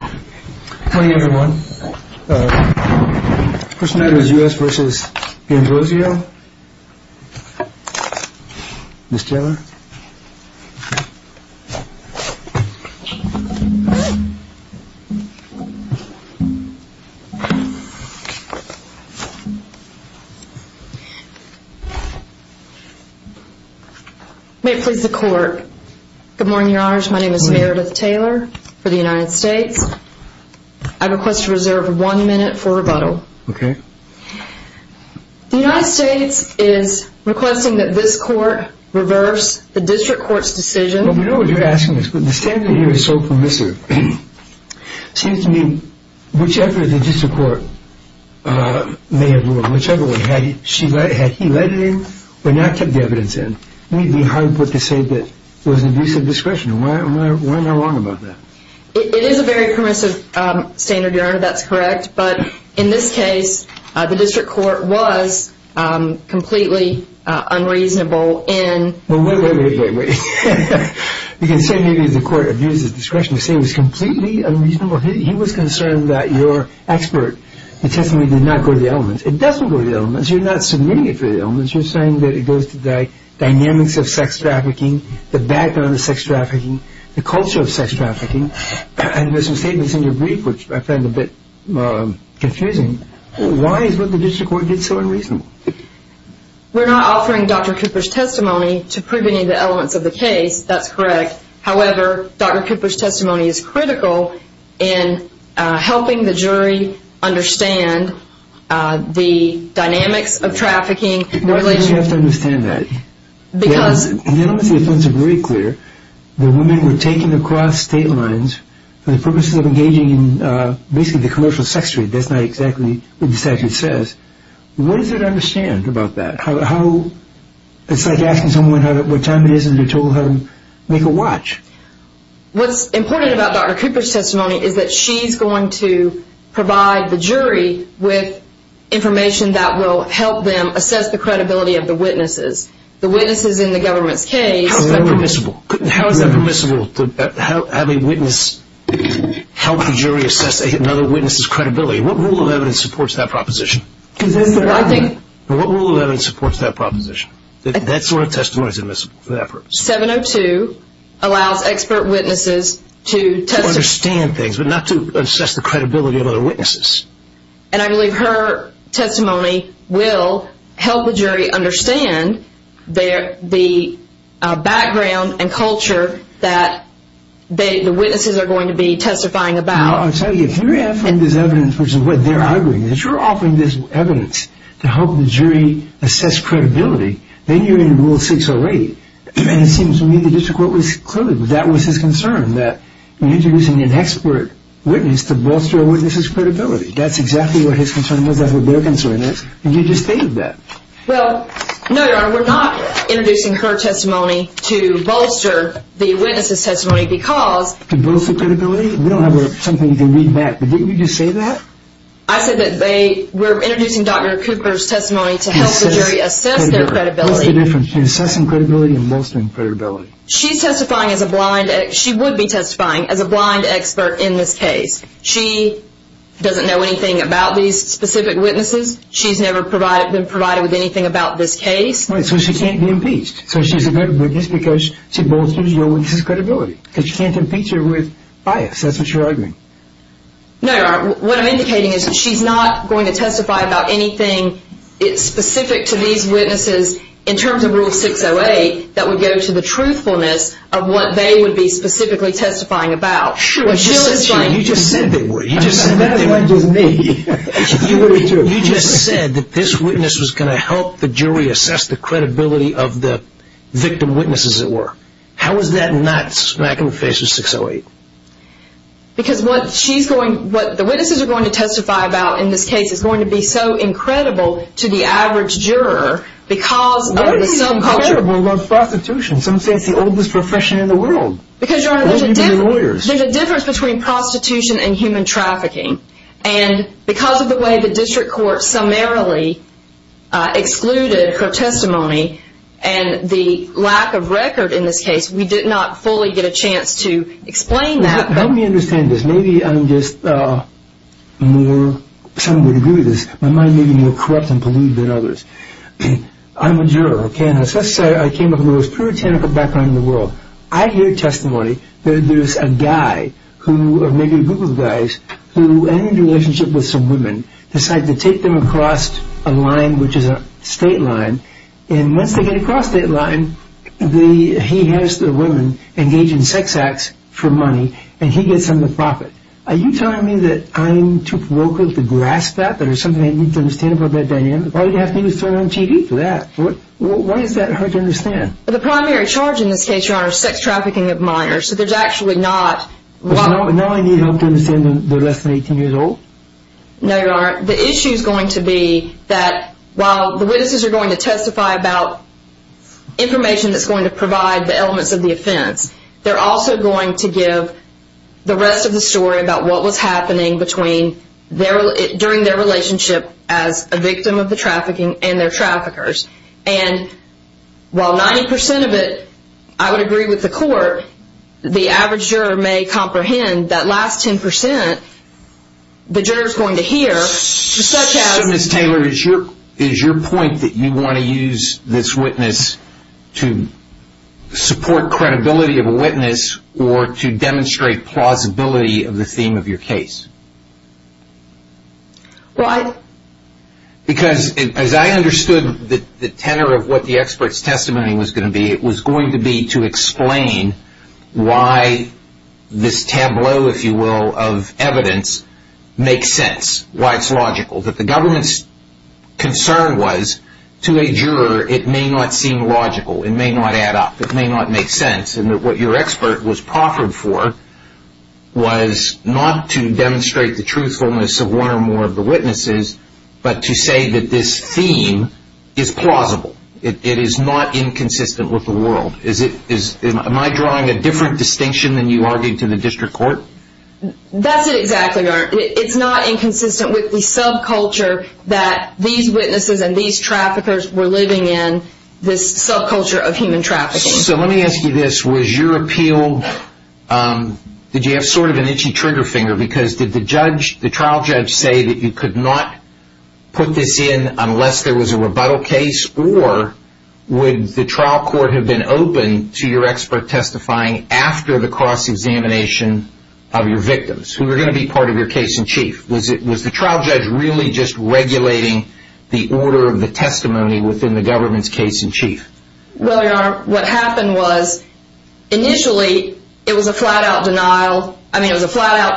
Good morning everyone. The first matter is U.S. v. D Ambrosio. Ms. Taylor. May it please the court, good morning your honors, my name is Meredith Taylor for the United States. I request to reserve one minute for rebuttal. The United States is requesting that this court reverse the district court's decision. Well we know what you're asking us, but the standard here is so permissive. Seems to me whichever the district court may have ruled, whichever one, had he led it in or not kept the evidence in, we'd be hard put to say that it was an abuse of discretion. Why am I wrong about that? It is a very permissive standard your honor, that's correct, but in this case the district court was completely unreasonable in... Well wait, wait, wait, wait, wait. You can say maybe the court abused his discretion, you can say he was completely unreasonable, he was concerned that your expert, the testimony did not go to the elements. It doesn't go to the elements, you're not submitting it to the elements, you're saying that it goes to the dynamics of sex trafficking, the background of sex trafficking, the culture of sex trafficking, and there's some statements in your brief which I find a bit confusing. Why is what the district court did so unreasonable? We're not offering Dr. Cooper's testimony to prove any of the elements of the case, that's correct. However, Dr. Cooper's testimony is critical in helping the jury understand the dynamics of trafficking... Why do you have to understand that? Because... The elements of the offense are very clear, the women were taken across state lines for the purposes of engaging in basically the commercial sex trade, that's not exactly what the statute says. What does it understand about that? It's like asking someone what time it is and you're told to make a watch. What's important about Dr. Cooper's testimony is that she's going to provide the jury with information that will help them assess the credibility of the witnesses. The witnesses in the government's case... How is that permissible? How is that permissible to have a witness help the jury assess another witness's credibility? What rule of evidence supports that proposition? I think... What rule of evidence supports that proposition? That sort of testimony is permissible for that purpose. 702 allows expert witnesses to... To understand things, but not to assess the credibility of other witnesses. And I believe her testimony will help the jury understand the background and culture that the witnesses are going to be testifying about. I'll tell you, if you're offering this evidence, which is what they're arguing, if you're offering this evidence to help the jury assess credibility, then you're in rule 608. And it seems to me the district court was clearly... That was his concern, that introducing an expert witness to bolster a witness's credibility. That's exactly what his concern was. That's what their concern is. And you just stated that. Well, no, Your Honor, we're not introducing her testimony to bolster the witness's testimony because... To bolster credibility? We don't have something you can read back. But didn't you just say that? I said that they... We're introducing Dr. Cooper's testimony to help the jury assess their credibility. What's the difference between assessing credibility and bolstering credibility? She's testifying as a blind... She would be testifying as a blind expert in this case. She doesn't know anything about these specific witnesses. She's never been provided with anything about this case. So she can't be impeached. So she's a good witness because she bolsters your witness's credibility. Because you can't impeach her with bias. That's what you're arguing. No, Your Honor. What I'm indicating is that she's not going to testify about anything specific to these witnesses in terms of Rule 608 that would go to the truthfulness of what they would be specifically testifying about. Sure. You just said they were. You just said they were. You just said that this witness was going to help the jury assess the credibility of the victim witnesses that were. How is that not smack in the face of 608? Because what she's going... What the witnesses are going to testify about in this case is going to be so incredible to the average juror because... What is incredible about prostitution? Some say it's the oldest profession in the world. Because, Your Honor, there's a difference between prostitution and human trafficking. And because of the way the district court summarily excluded her testimony and the lack of record in this case, we did not fully get a chance to explain that. Help me understand this. Maybe I'm just more... Some would agree with this. My mind may be more corrupt and polluted than others. I'm a juror, okay, and I came up with the most puritanical background in the world. I hear testimony that there's a guy who, or maybe a group of guys, who ended a relationship with some women, decided to take them across a line which is a state line. And once they get across that line, he has the women engage in sex acts for money, and he gets them to profit. Are you telling me that I'm too provocal to grasp that? That there's something I need to understand about that dynamic? Why do you have to turn on TV for that? Why is that hard to understand? The primary charge in this case, Your Honor, is sex trafficking of minors. So there's actually not... So now I need help to understand they're less than 18 years old? No, Your Honor. The issue's going to be that while the witnesses are going to testify about information that's going to provide the elements of the offense, they're also going to give the rest of the story about what was happening during their relationship as a victim of the trafficking and their traffickers. And while 90% of it, I would agree with the court, the average juror may comprehend that last 10%, the juror's going to hear, such as... So, Ms. Taylor, is your point that you want to use this witness to support credibility of a witness or to demonstrate plausibility of the theme of your case? Why? Because as I understood the tenor of what the expert's testimony was going to be, it was going to be to explain why this tableau, if you will, of evidence makes sense, why it's logical, that the government's concern was to a juror it may not seem logical, it may not add up, it may not make sense, and that what your expert was proffered for was not to demonstrate the truthfulness of one or more of the witnesses, but to say that this theme is plausible. It is not inconsistent with the world. Am I drawing a different distinction than you argued to the district court? That's it, exactly, Your Honor. It's not inconsistent with the subculture that these witnesses and these traffickers were living in, this subculture of human trafficking. So let me ask you this. Was your appeal... Did you have sort of an itchy trigger finger? Because did the trial judge say that you could not put this in unless there was a rebuttal case, or would the trial court have been open to your expert testifying after the cross-examination of your victims, who were going to be part of your case in chief? Was the trial judge really just regulating the order of the testimony within the government's case in chief? Well, Your Honor, what happened was, initially, it was a flat-out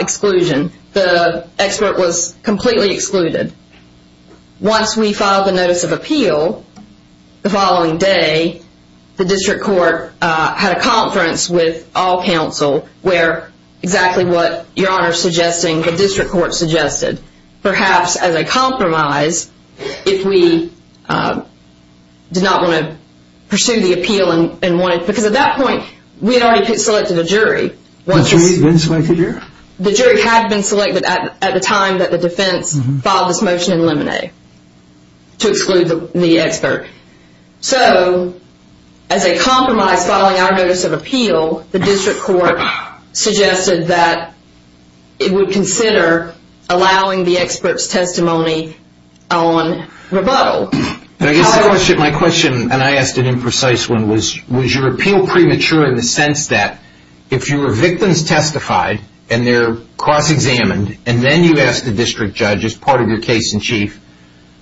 exclusion. The expert was completely excluded. Once we filed the notice of appeal, the following day, the district court had a conference with all counsel where exactly what Your Honor is suggesting, the district court suggested, perhaps as a compromise, if we did not want to pursue the appeal and wanted... Because at that point, we had already selected a jury. The jury had been selected at the time that the defense filed this motion in Lemonnier to exclude the expert. So, as a compromise filing our notice of appeal, the district court suggested that it would consider allowing the expert's testimony on rebuttal. My question, and I asked an imprecise one, was, was your appeal premature in the sense that if your victims testified, and they're cross-examined, and then you ask the district judge as part of your case in chief,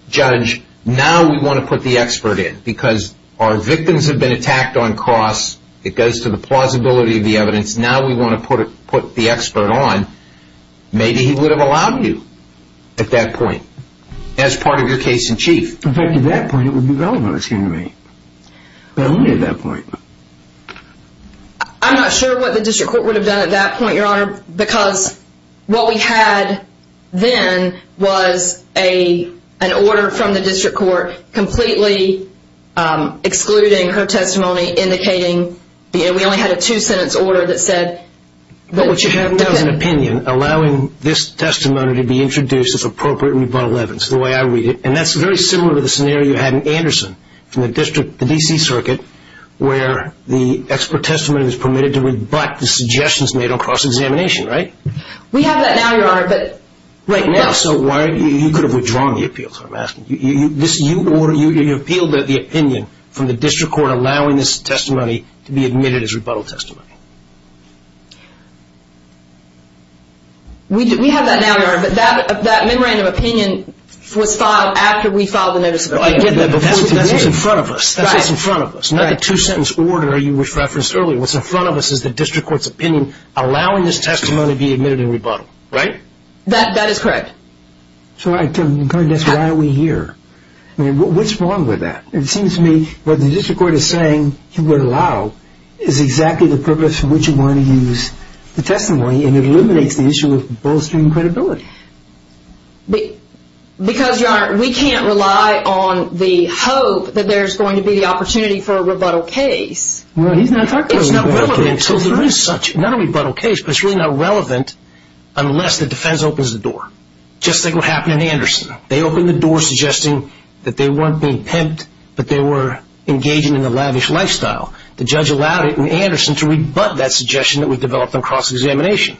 judge, now we want to put the expert in because our victims have been attacked on cross. It goes to the plausibility of the evidence. Now we want to put the expert on. Maybe he would have allowed you at that point as part of your case in chief. In fact, at that point, it would be relevant, excuse me. But only at that point. I'm not sure what the district court would have done at that point, Your Honor, because what we had then was an order from the district court completely excluding her testimony, indicating we only had a two-sentence order that said. But what you have now is an opinion allowing this testimony to be introduced as appropriate in rebuttal evidence, the way I read it. And that's very similar to the scenario you had in Anderson from the district, the D.C. Circuit, where the expert testimony was permitted to rebut the suggestions made on cross-examination, right? We have that now, Your Honor, but right now. So you could have withdrawn the appeal, is what I'm asking. You appealed the opinion from the district court allowing this testimony to be admitted as rebuttal testimony. We have that now, Your Honor, but that memorandum of opinion was filed after we filed the notice of opinion. I get that, but that's what's in front of us. That's what's in front of us, not the two-sentence order you referenced earlier. What's in front of us is the district court's opinion allowing this testimony to be admitted in rebuttal, right? That is correct. So I'm trying to guess, why are we here? I mean, what's wrong with that? It seems to me what the district court is saying it would allow is exactly the purpose for which it wanted to use the testimony, and it eliminates the issue of bolstering credibility. Because, Your Honor, we can't rely on the hope that there's going to be the opportunity for a rebuttal case. Well, he's not talking about a rebuttal case. It's not relevant until there is such. Not a rebuttal case, but it's really not relevant unless the defense opens the door. Just think what happened in Anderson. They opened the door suggesting that they weren't being pimped, but they were engaging in a lavish lifestyle. The judge allowed it in Anderson to rebut that suggestion that was developed on cross-examination.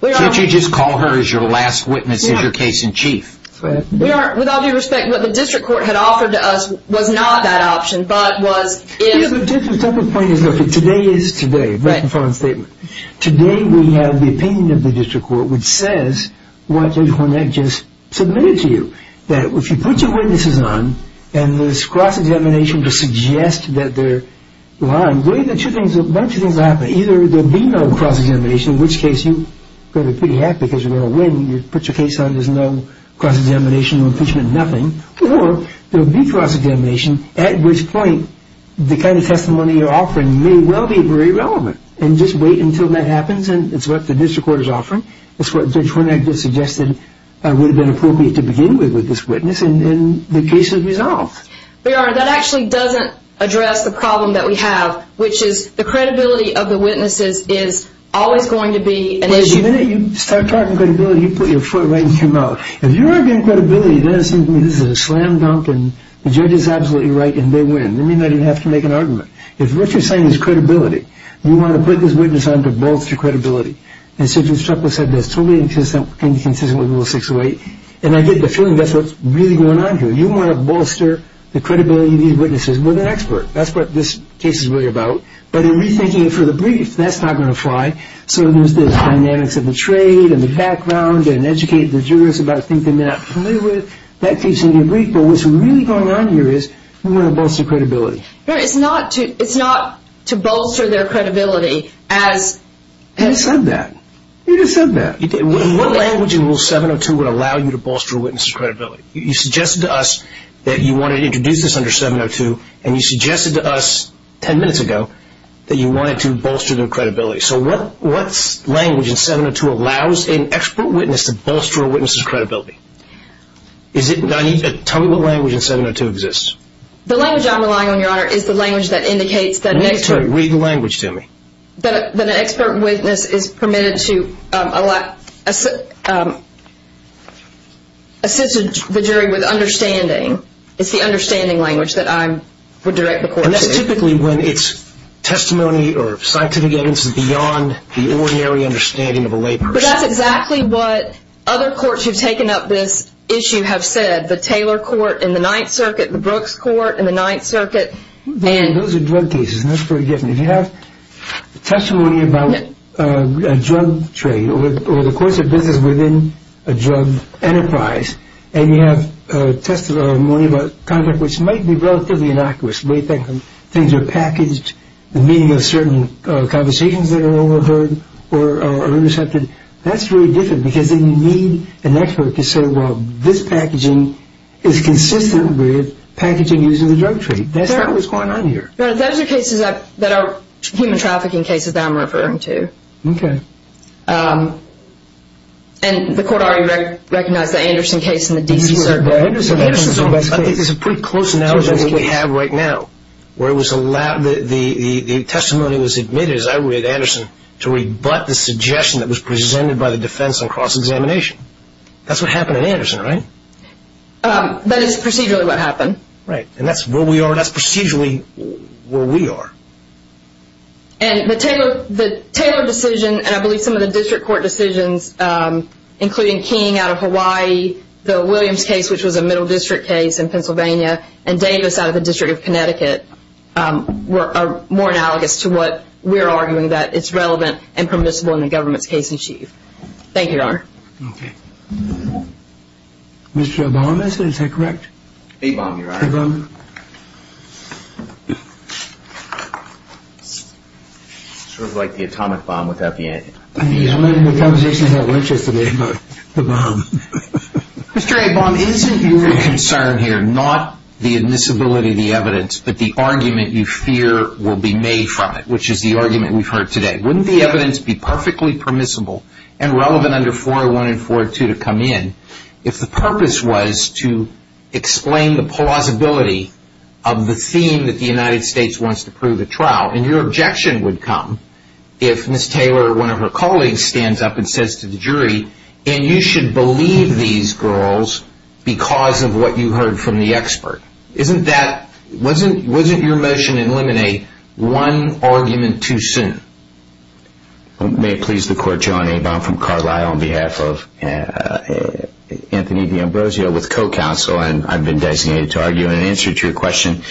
Can't you just call her as your last witness in your case in chief? With all due respect, what the district court had offered to us was not that option, but was if. The point is, look, today is today, right in front of the statement. Today we have the opinion of the district court which says what Judge Hornak just submitted to you, that if you put your witnesses on and this cross-examination to suggest that they're lying, either there will be no cross-examination, in which case you're going to be pretty happy because you're going to win. You put your case on. There's no cross-examination or impeachment, nothing. Or there will be cross-examination, at which point the kind of testimony you're offering may well be very relevant. And just wait until that happens, and it's what the district court is offering. It's what Judge Hornak just suggested would have been appropriate to begin with with this witness, and the case is resolved. But, Your Honor, that actually doesn't address the problem that we have, which is the credibility of the witnesses is always going to be an issue. Wait a minute. You start talking credibility, you put your foot right in your mouth. If you're arguing credibility, then it seems to me this is a slam dunk and the judge is absolutely right and they win. It doesn't mean that you have to make an argument. If what you're saying is credibility, you want to put this witness on to bolster credibility. And so Judge Chakla said that's totally inconsistent with Rule 608, and I get the feeling that's what's really going on here. You want to bolster the credibility of these witnesses with an expert. That's what this case is really about. But in rethinking it for the brief, that's not going to fly. So there's the dynamics of the trade and the background and educate the jurors about things they may not be familiar with. That keeps them in the brief. But what's really going on here is we want to bolster credibility. No, it's not to bolster their credibility as... You just said that. You just said that. What language in Rule 702 would allow you to bolster a witness' credibility? You suggested to us that you wanted to introduce this under 702, and you suggested to us ten minutes ago that you wanted to bolster their credibility. So what language in 702 allows an expert witness to bolster a witness' credibility? Tell me what language in 702 exists. The language I'm relying on, Your Honor, is the language that indicates that an expert... Read the language to me. ...that an expert witness is permitted to assist the jury with understanding. It's the understanding language that I would direct the court to. And that's typically when it's testimony or scientific evidence is beyond the ordinary understanding of a lay person. But that's exactly what other courts who have taken up this issue have said. The Taylor Court in the Ninth Circuit, the Brooks Court in the Ninth Circuit. Those are drug cases, and that's pretty different. If you have testimony about a drug trade or the course of business within a drug enterprise, and you have testimony about conduct which might be relatively innocuous, things are packaged, the meaning of certain conversations that are overheard or intercepted, that's very different because then you need an expert to say, well, this packaging is consistent with packaging using the drug trade. That's not what's going on here. Your Honor, those are cases that are human trafficking cases that I'm referring to. Okay. And the court already recognized the Anderson case in the D.C. Circuit. Anderson is a pretty close analogy that we have right now, where the testimony was admitted, as I read Anderson, to rebut the suggestion that was presented by the defense on cross-examination. That's what happened in Anderson, right? That is procedurally what happened. Right, and that's where we are. That's procedurally where we are. And the Taylor decision, and I believe some of the district court decisions, including King out of Hawaii, the Williams case, which was a middle district case in Pennsylvania, and Davis out of the District of Connecticut, are more analogous to what we're arguing that is relevant and permissible in the government's case in chief. Thank you, Your Honor. Okay. Mr. Obama, is that correct? A-bomb, Your Honor. A-bomb. Sort of like the atomic bomb without the A-bomb. I'm not in the position to have an interest in A-bomb. Mr. A-bomb, isn't your concern here not the admissibility of the evidence, but the argument you fear will be made from it, which is the argument we've heard today? Wouldn't the evidence be perfectly permissible and relevant under 401 and 402 to come in if the purpose was to explain the plausibility of the theme that the United States wants to prove at trial? And your objection would come if Ms. Taylor or one of her colleagues stands up and says to the jury, and you should believe these girls because of what you heard from the expert. Isn't that, wasn't your motion to eliminate one argument too soon? May it please the Court, Your Honor, A-bomb from Carlisle on behalf of Anthony D'Ambrosio with co-counsel, and I've been designated to argue an answer to your question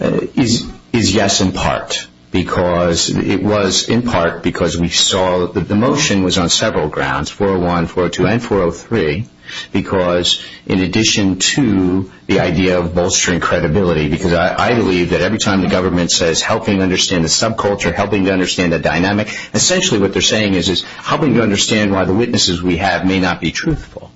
is yes in part because it was in part because we saw that the motion was on several grounds, 401, 402, and 403, because in addition to the idea of bolstering credibility, because I believe that every time the government says helping to understand the subculture, helping to understand the dynamic, essentially what they're saying is helping to understand why the witnesses we have may not be truthful.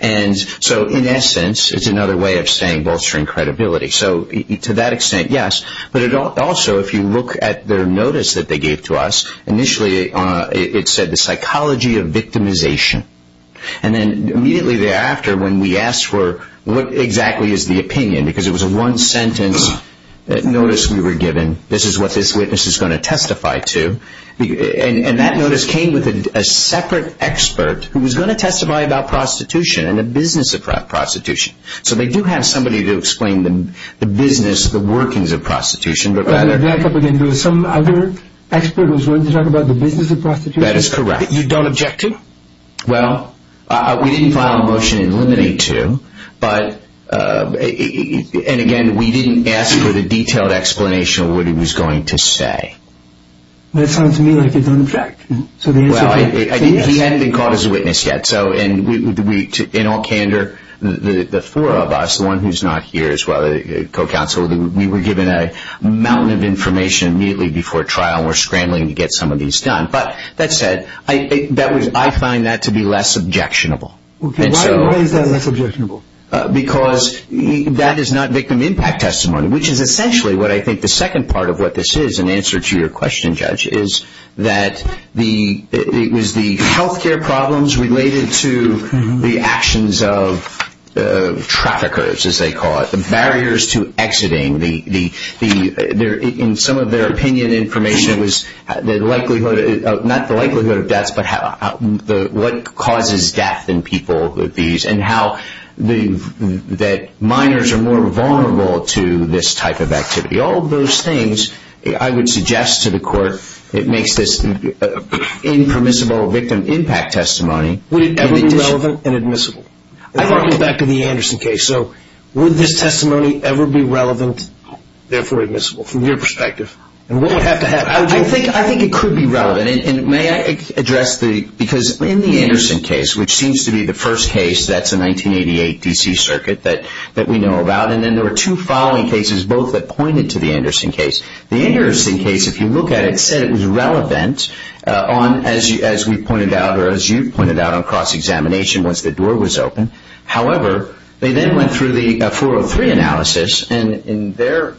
And so in essence, it's another way of saying bolstering credibility. So to that extent, yes, but also if you look at their notice that they gave to us, initially it said the psychology of victimization. And then immediately thereafter when we asked for what exactly is the opinion, because it was a one-sentence notice we were given, this is what this witness is going to testify to, and that notice came with a separate expert who was going to testify about prostitution and the business of prostitution. So they do have somebody to explain the business, the workings of prostitution. But back up again, there was some other expert who was going to talk about the business of prostitution? That is correct. You don't object to? Well, we didn't file a motion to eliminate to, but again we didn't ask for the detailed explanation of what he was going to say. That sounds to me like you don't object. Well, he hadn't been called as a witness yet. So in all candor, the four of us, the one who's not here as well, the co-counsel, we were given a mountain of information immediately before trial and we're scrambling to get some of these done. But that said, I find that to be less objectionable. Why is that less objectionable? Because that is not victim impact testimony, which is essentially what I think the second part of what this is in answer to your question, Judge, is that it was the health care problems related to the actions of traffickers, as they call it, the barriers to exiting. In some of their opinion information, it was not the likelihood of deaths, but what causes death in people with these and that minors are more vulnerable to this type of activity. All of those things, I would suggest to the Court, it makes this impermissible victim impact testimony. Would it ever be relevant and admissible? I want to go back to the Anderson case. So would this testimony ever be relevant, therefore admissible from your perspective? And what would have to happen? I think it could be relevant. And may I address the – because in the Anderson case, which seems to be the first case, that's a 1988 D.C. circuit that we know about, and then there were two following cases both that pointed to the Anderson case. The Anderson case, if you look at it, said it was relevant as we pointed out or as you pointed out on cross-examination once the door was open. However, they then went through the 403 analysis, and in their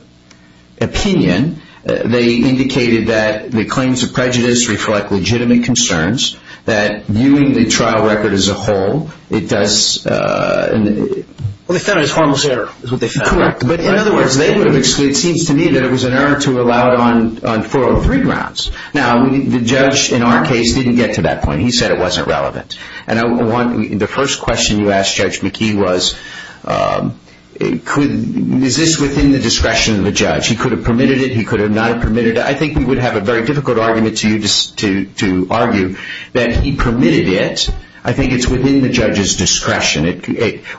opinion, they indicated that the claims of prejudice reflect legitimate concerns, that viewing the trial record as a whole, it does – Well, they found it as harmless error is what they found. Correct. But in other words, they would have – it seems to me that it was an error to allow it on 403 grounds. Now, the judge in our case didn't get to that point. He said it wasn't relevant. And the first question you asked Judge McKee was, is this within the discretion of the judge? He could have permitted it. He could have not permitted it. I think we would have a very difficult argument to argue that he permitted it. I think it's within the judge's discretion.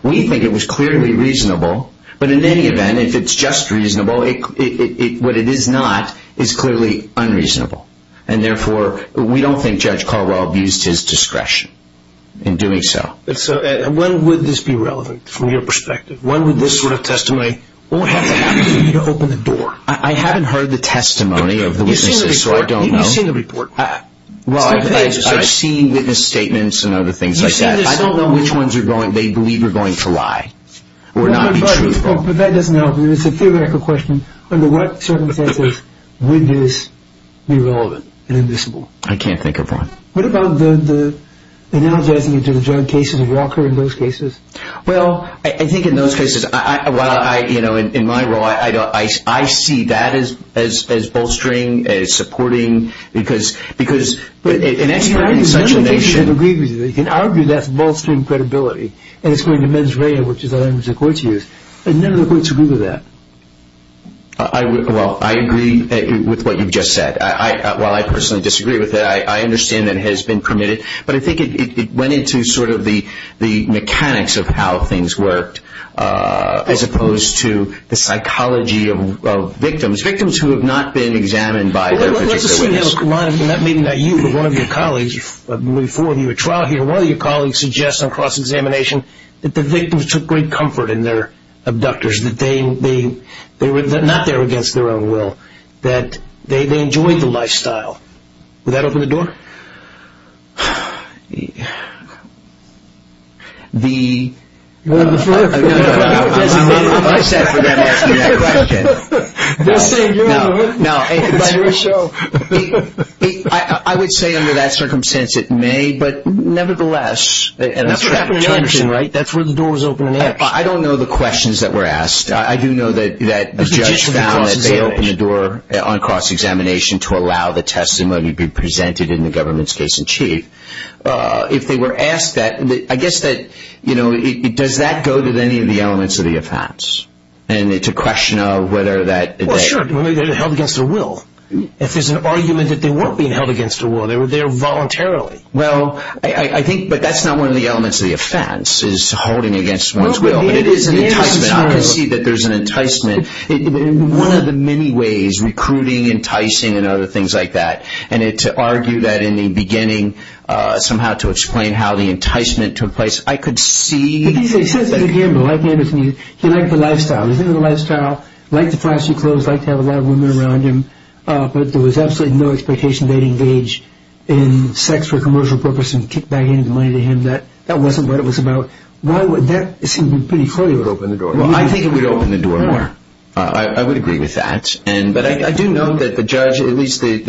We think it was clearly reasonable. But in any event, if it's just reasonable, what it is not is clearly unreasonable. And therefore, we don't think Judge Carwell abused his discretion in doing so. When would this be relevant from your perspective? When would this sort of testimony – What would have to happen for you to open the door? I haven't heard the testimony of the witnesses, so I don't know. You've seen the report. Well, I've seen witness statements and other things like that. I don't know which ones they believe are going to lie or not be truthful. That doesn't help. It's a theoretical question. Under what circumstances would this be relevant and admissible? I can't think of one. What about the analogizing it to the drug cases of Walker in those cases? Well, I think in those cases, in my role, I see that as bolstering, as supporting. Because an expert in such a nation – You can argue that's bolstering credibility. And it's going to mens rea, which is the language the courts use. And none of the courts agree with that. Well, I agree with what you've just said. While I personally disagree with it, I understand that it has been permitted. But I think it went into sort of the mechanics of how things worked as opposed to the psychology of victims, victims who have not been examined by their legislative witness. Well, let's assume you have a client, and that may not be you, but one of your colleagues before you at trial here, one of your colleagues suggests on cross-examination that the victims took great comfort in their abductors, that they were not there against their own will, that they enjoyed the lifestyle. Would that open the door? You're one of the first. No, no, no, no. I was designated by staff for them to ask me that question. They're saying you're one. No, no. It's your show. I would say under that circumstance it may, but nevertheless – I don't know the questions that were asked. I do know that the judge found that they opened the door on cross-examination to allow the testimony to be presented in the government's case in chief. If they were asked that, I guess that, you know, does that go to any of the elements of the offense? And it's a question of whether that – Well, sure. They were held against their will. If there's an argument that they weren't being held against their will, they were there voluntarily. Well, I think – but that's not one of the elements of the offense, is holding against one's will. But it is an enticement. I can see that there's an enticement. One of the many ways, recruiting, enticing, and other things like that, and to argue that in the beginning, somehow to explain how the enticement took place, I could see – He says it again, but like Anderson, he liked the lifestyle. He liked the lifestyle, liked the flashy clothes, liked to have a lot of women around him, but there was absolutely no expectation they'd engage in sex for commercial purposes and kick back any money to him. That wasn't what it was about. Why would – that seemed pretty clear it would open the door. Well, I think it would open the door more. I would agree with that. But I do note that the judge, at least in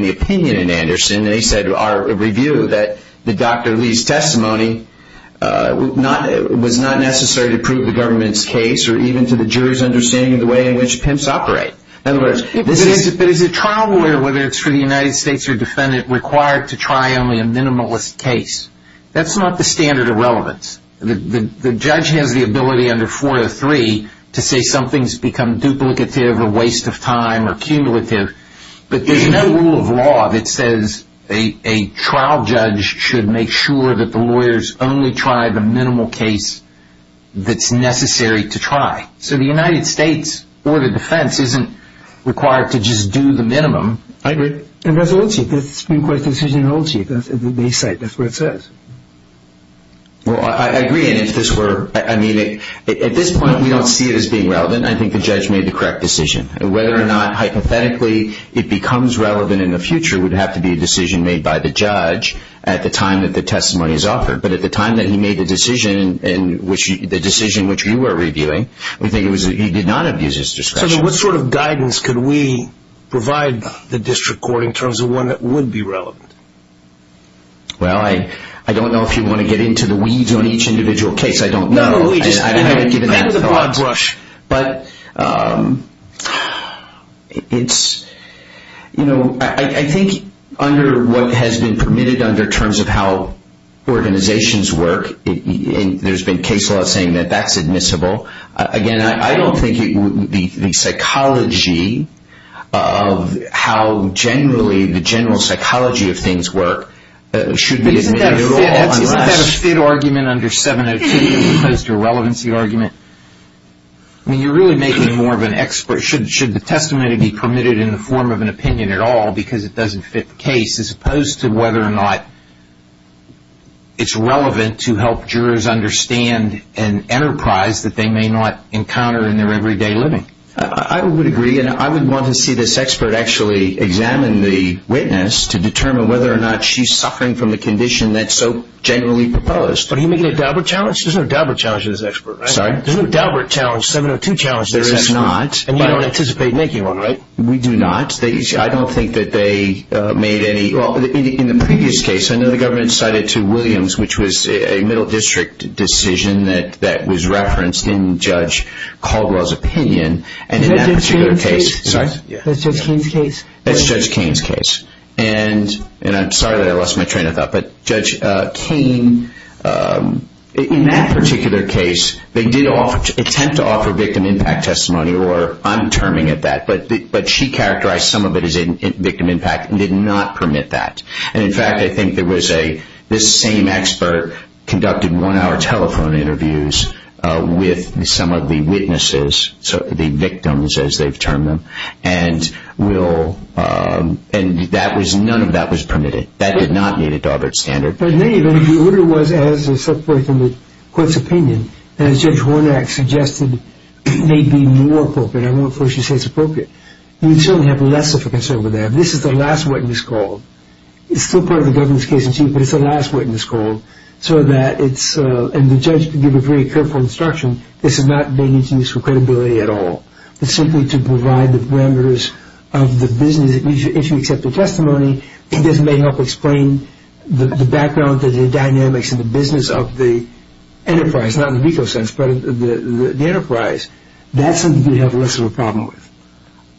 the opinion in Anderson, they said to our review that the Dr. Lee's testimony was not necessary to prove the government's case or even to the jury's understanding of the way in which pimps operate. But is a trial lawyer, whether it's for the United States or defendant, required to try only a minimalist case? That's not the standard of relevance. The judge has the ability under 403 to say something's become duplicative or a waste of time or cumulative, but there's no rule of law that says a trial judge should make sure that the lawyers only try the minimal case that's necessary to try. So the United States Board of Defense isn't required to just do the minimum. I agree. And that's Old Chief. That's the Supreme Court's decision in Old Chief. That's at the base site. That's where it says. Well, I agree. And if this were – I mean, at this point, we don't see it as being relevant. I think the judge made the correct decision. Whether or not, hypothetically, it becomes relevant in the future would have to be a decision made by the judge at the time that the testimony is offered. But at the time that he made the decision, the decision which we were reviewing, we think he did not abuse his discretion. So then what sort of guidance could we provide the district court in terms of one that would be relevant? Well, I don't know if you want to get into the weeds on each individual case. I don't know. No, no, we just – I haven't given that thought. Kind of a broad brush. But it's – I think under what has been permitted under terms of how organizations work, there's been case law saying that that's admissible. Again, I don't think the psychology of how generally the general psychology of things work should be admitted at all unless – I mean, you're really making more of an expert – should the testimony be permitted in the form of an opinion at all because it doesn't fit the case, as opposed to whether or not it's relevant to help jurors understand an enterprise that they may not encounter in their everyday living? I would agree, and I would want to see this expert actually examine the witness to determine whether or not she's suffering from a condition that's so generally proposed. Are you making a Daubert challenge? There's no Daubert challenge in this expert, right? I'm sorry? There's no Daubert challenge, 702 challenge in this expert. There is not. And you don't anticipate making one, right? We do not. I don't think that they made any – well, in the previous case, I know the government cited to Williams, which was a middle district decision that was referenced in Judge Caldwell's opinion. And in that particular case – Is that Judge Kane's case? Sorry? That's Judge Kane's case? That's Judge Kane's case. And I'm sorry that I lost my train of thought, but Judge Kane, in that particular case, they did attempt to offer victim impact testimony, or I'm terming it that, but she characterized some of it as victim impact and did not permit that. And, in fact, I think there was a – this same expert conducted one-hour telephone interviews with some of the witnesses, the victims as they've termed them, and none of that was permitted. That did not meet a Daubert standard. But, in any event, the order was, as set forth in the court's opinion, and as Judge Hornak suggested, may be more appropriate. I won't force you to say it's appropriate. You'd certainly have less of a concern with that. This is the last witness called. It's still part of the government's case, but it's the last witness called, so that it's – and the judge can give a very careful instruction. This is not made into use for credibility at all. It's simply to provide the members of the business, if you accept the testimony, this may help explain the background, the dynamics, and the business of the enterprise, not in the legal sense, but the enterprise. That's something you'd have less of a problem with.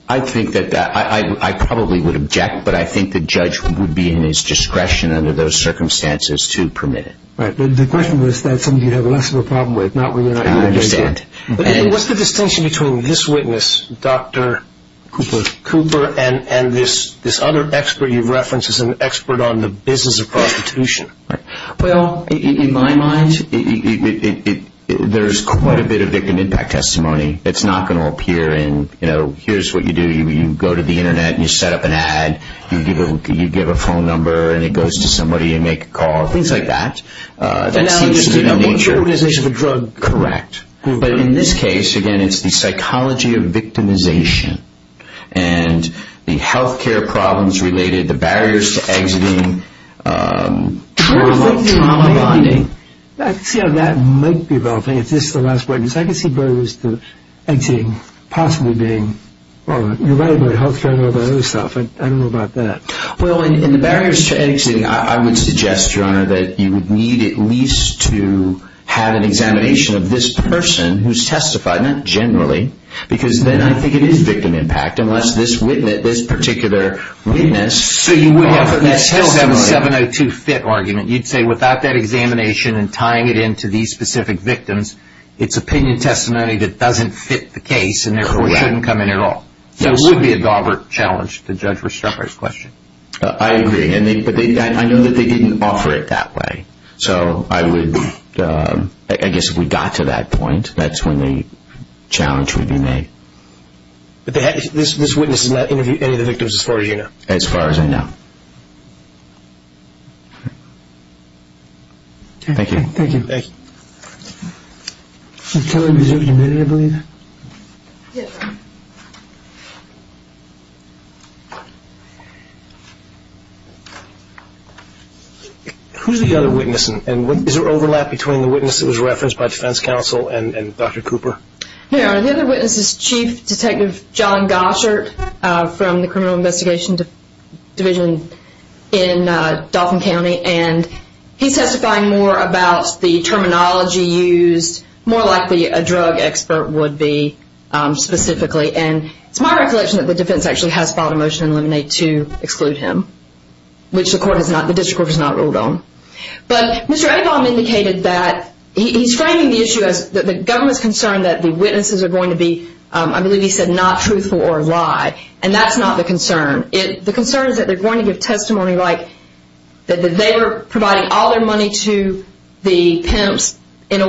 I think that – I probably would object, but I think the judge would be in his discretion under those circumstances to permit it. Right. The question was that's something you'd have less of a problem with, not when you're not going to make it. I understand. What's the distinction between this witness, Dr. Cooper, and this other expert you've referenced as an expert on the business of prostitution? Well, in my mind, there's quite a bit of victim impact testimony. It's not going to appear in, you know, here's what you do. You go to the Internet, and you set up an ad. You give a phone number, and it goes to somebody. You make a call, things like that. That seems to be the nature. Now, what's your organization for drug? Correct. But in this case, again, it's the psychology of victimization. And the health care problems related, the barriers to exiting, trauma bonding. I can see how that might be developing if this is the last witness. I can see barriers to exiting possibly being – well, you're right about health care and all that other stuff. I don't know about that. Well, in the barriers to exiting, I would suggest, Your Honor, that you would need at least to have an examination of this person who's testified, not generally, because then I think it is victim impact unless this witness, this particular witness – So you would have – You'd still have a 702-fit argument. You'd say without that examination and tying it into these specific victims, it's opinion testimony that doesn't fit the case and therefore shouldn't come in at all. Correct. So it would be a Daubert challenge to Judge Restrepo's question. I agree. But I know that they didn't offer it that way. So I would – I guess if we got to that point, that's when the challenge would be made. But this witness has not interviewed any of the victims as far as you know? As far as I know. Thank you. Thank you. Thank you. Who's the other witness, and is there overlap between the witness that was referenced by defense counsel and Dr. Cooper? Your Honor, the other witness is Chief Detective John Gossert from the Criminal Investigation Division in Dauphin County, and he's testifying more about the terminology used, more likely a drug expert would be specifically. And it's my recollection that the defense actually has filed a motion in Lemonade to exclude him, which the court has not – the district court has not ruled on. But Mr. Avom indicated that he's framing the issue as the government's concern that the witnesses are going to be, I believe he said, not truthful or a lie, and that's not the concern. The concern is that they're going to give testimony like that they were providing all their money to the pimps in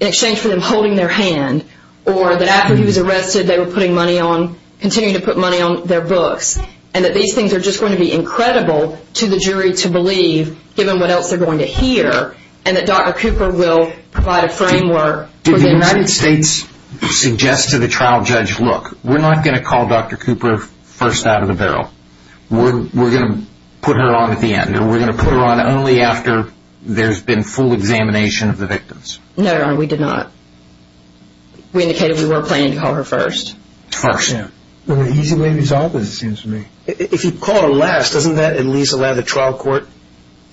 exchange for them holding their hand, or that after he was arrested they were putting money on – continuing to put money on their books, and that these things are just going to be incredible to the jury to believe, given what else they're going to hear, and that Dr. Cooper will provide a framework for the United States. Did the United States suggest to the trial judge, look, we're not going to call Dr. Cooper first out of the barrel. We're going to put her on at the end, and we're going to put her on only after there's been full examination of the victims? No, Your Honor, we did not. We indicated we were planning to call her first. First. Well, an easy way to resolve this, it seems to me. If you call her last, doesn't that at least allow the trial court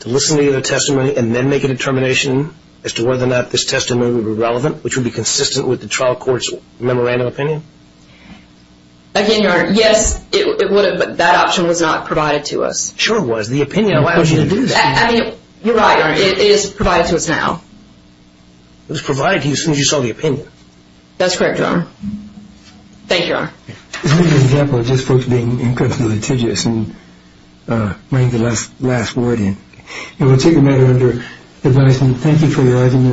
to listen to your testimony and then make a determination as to whether or not this testimony would be relevant, which would be consistent with the trial court's memorandum of opinion? Again, Your Honor, yes, it would have, but that option was not provided to us. Sure it was. The opinion allowed you to do this. I mean, you're right, Your Honor, it is provided to us now. It was provided to you as soon as you saw the opinion. That's correct, Your Honor. Thank you, Your Honor. This is an example of just folks being incredibly litigious and bringing the last word in. And we'll take a matter under advisement. Thank you for your argument.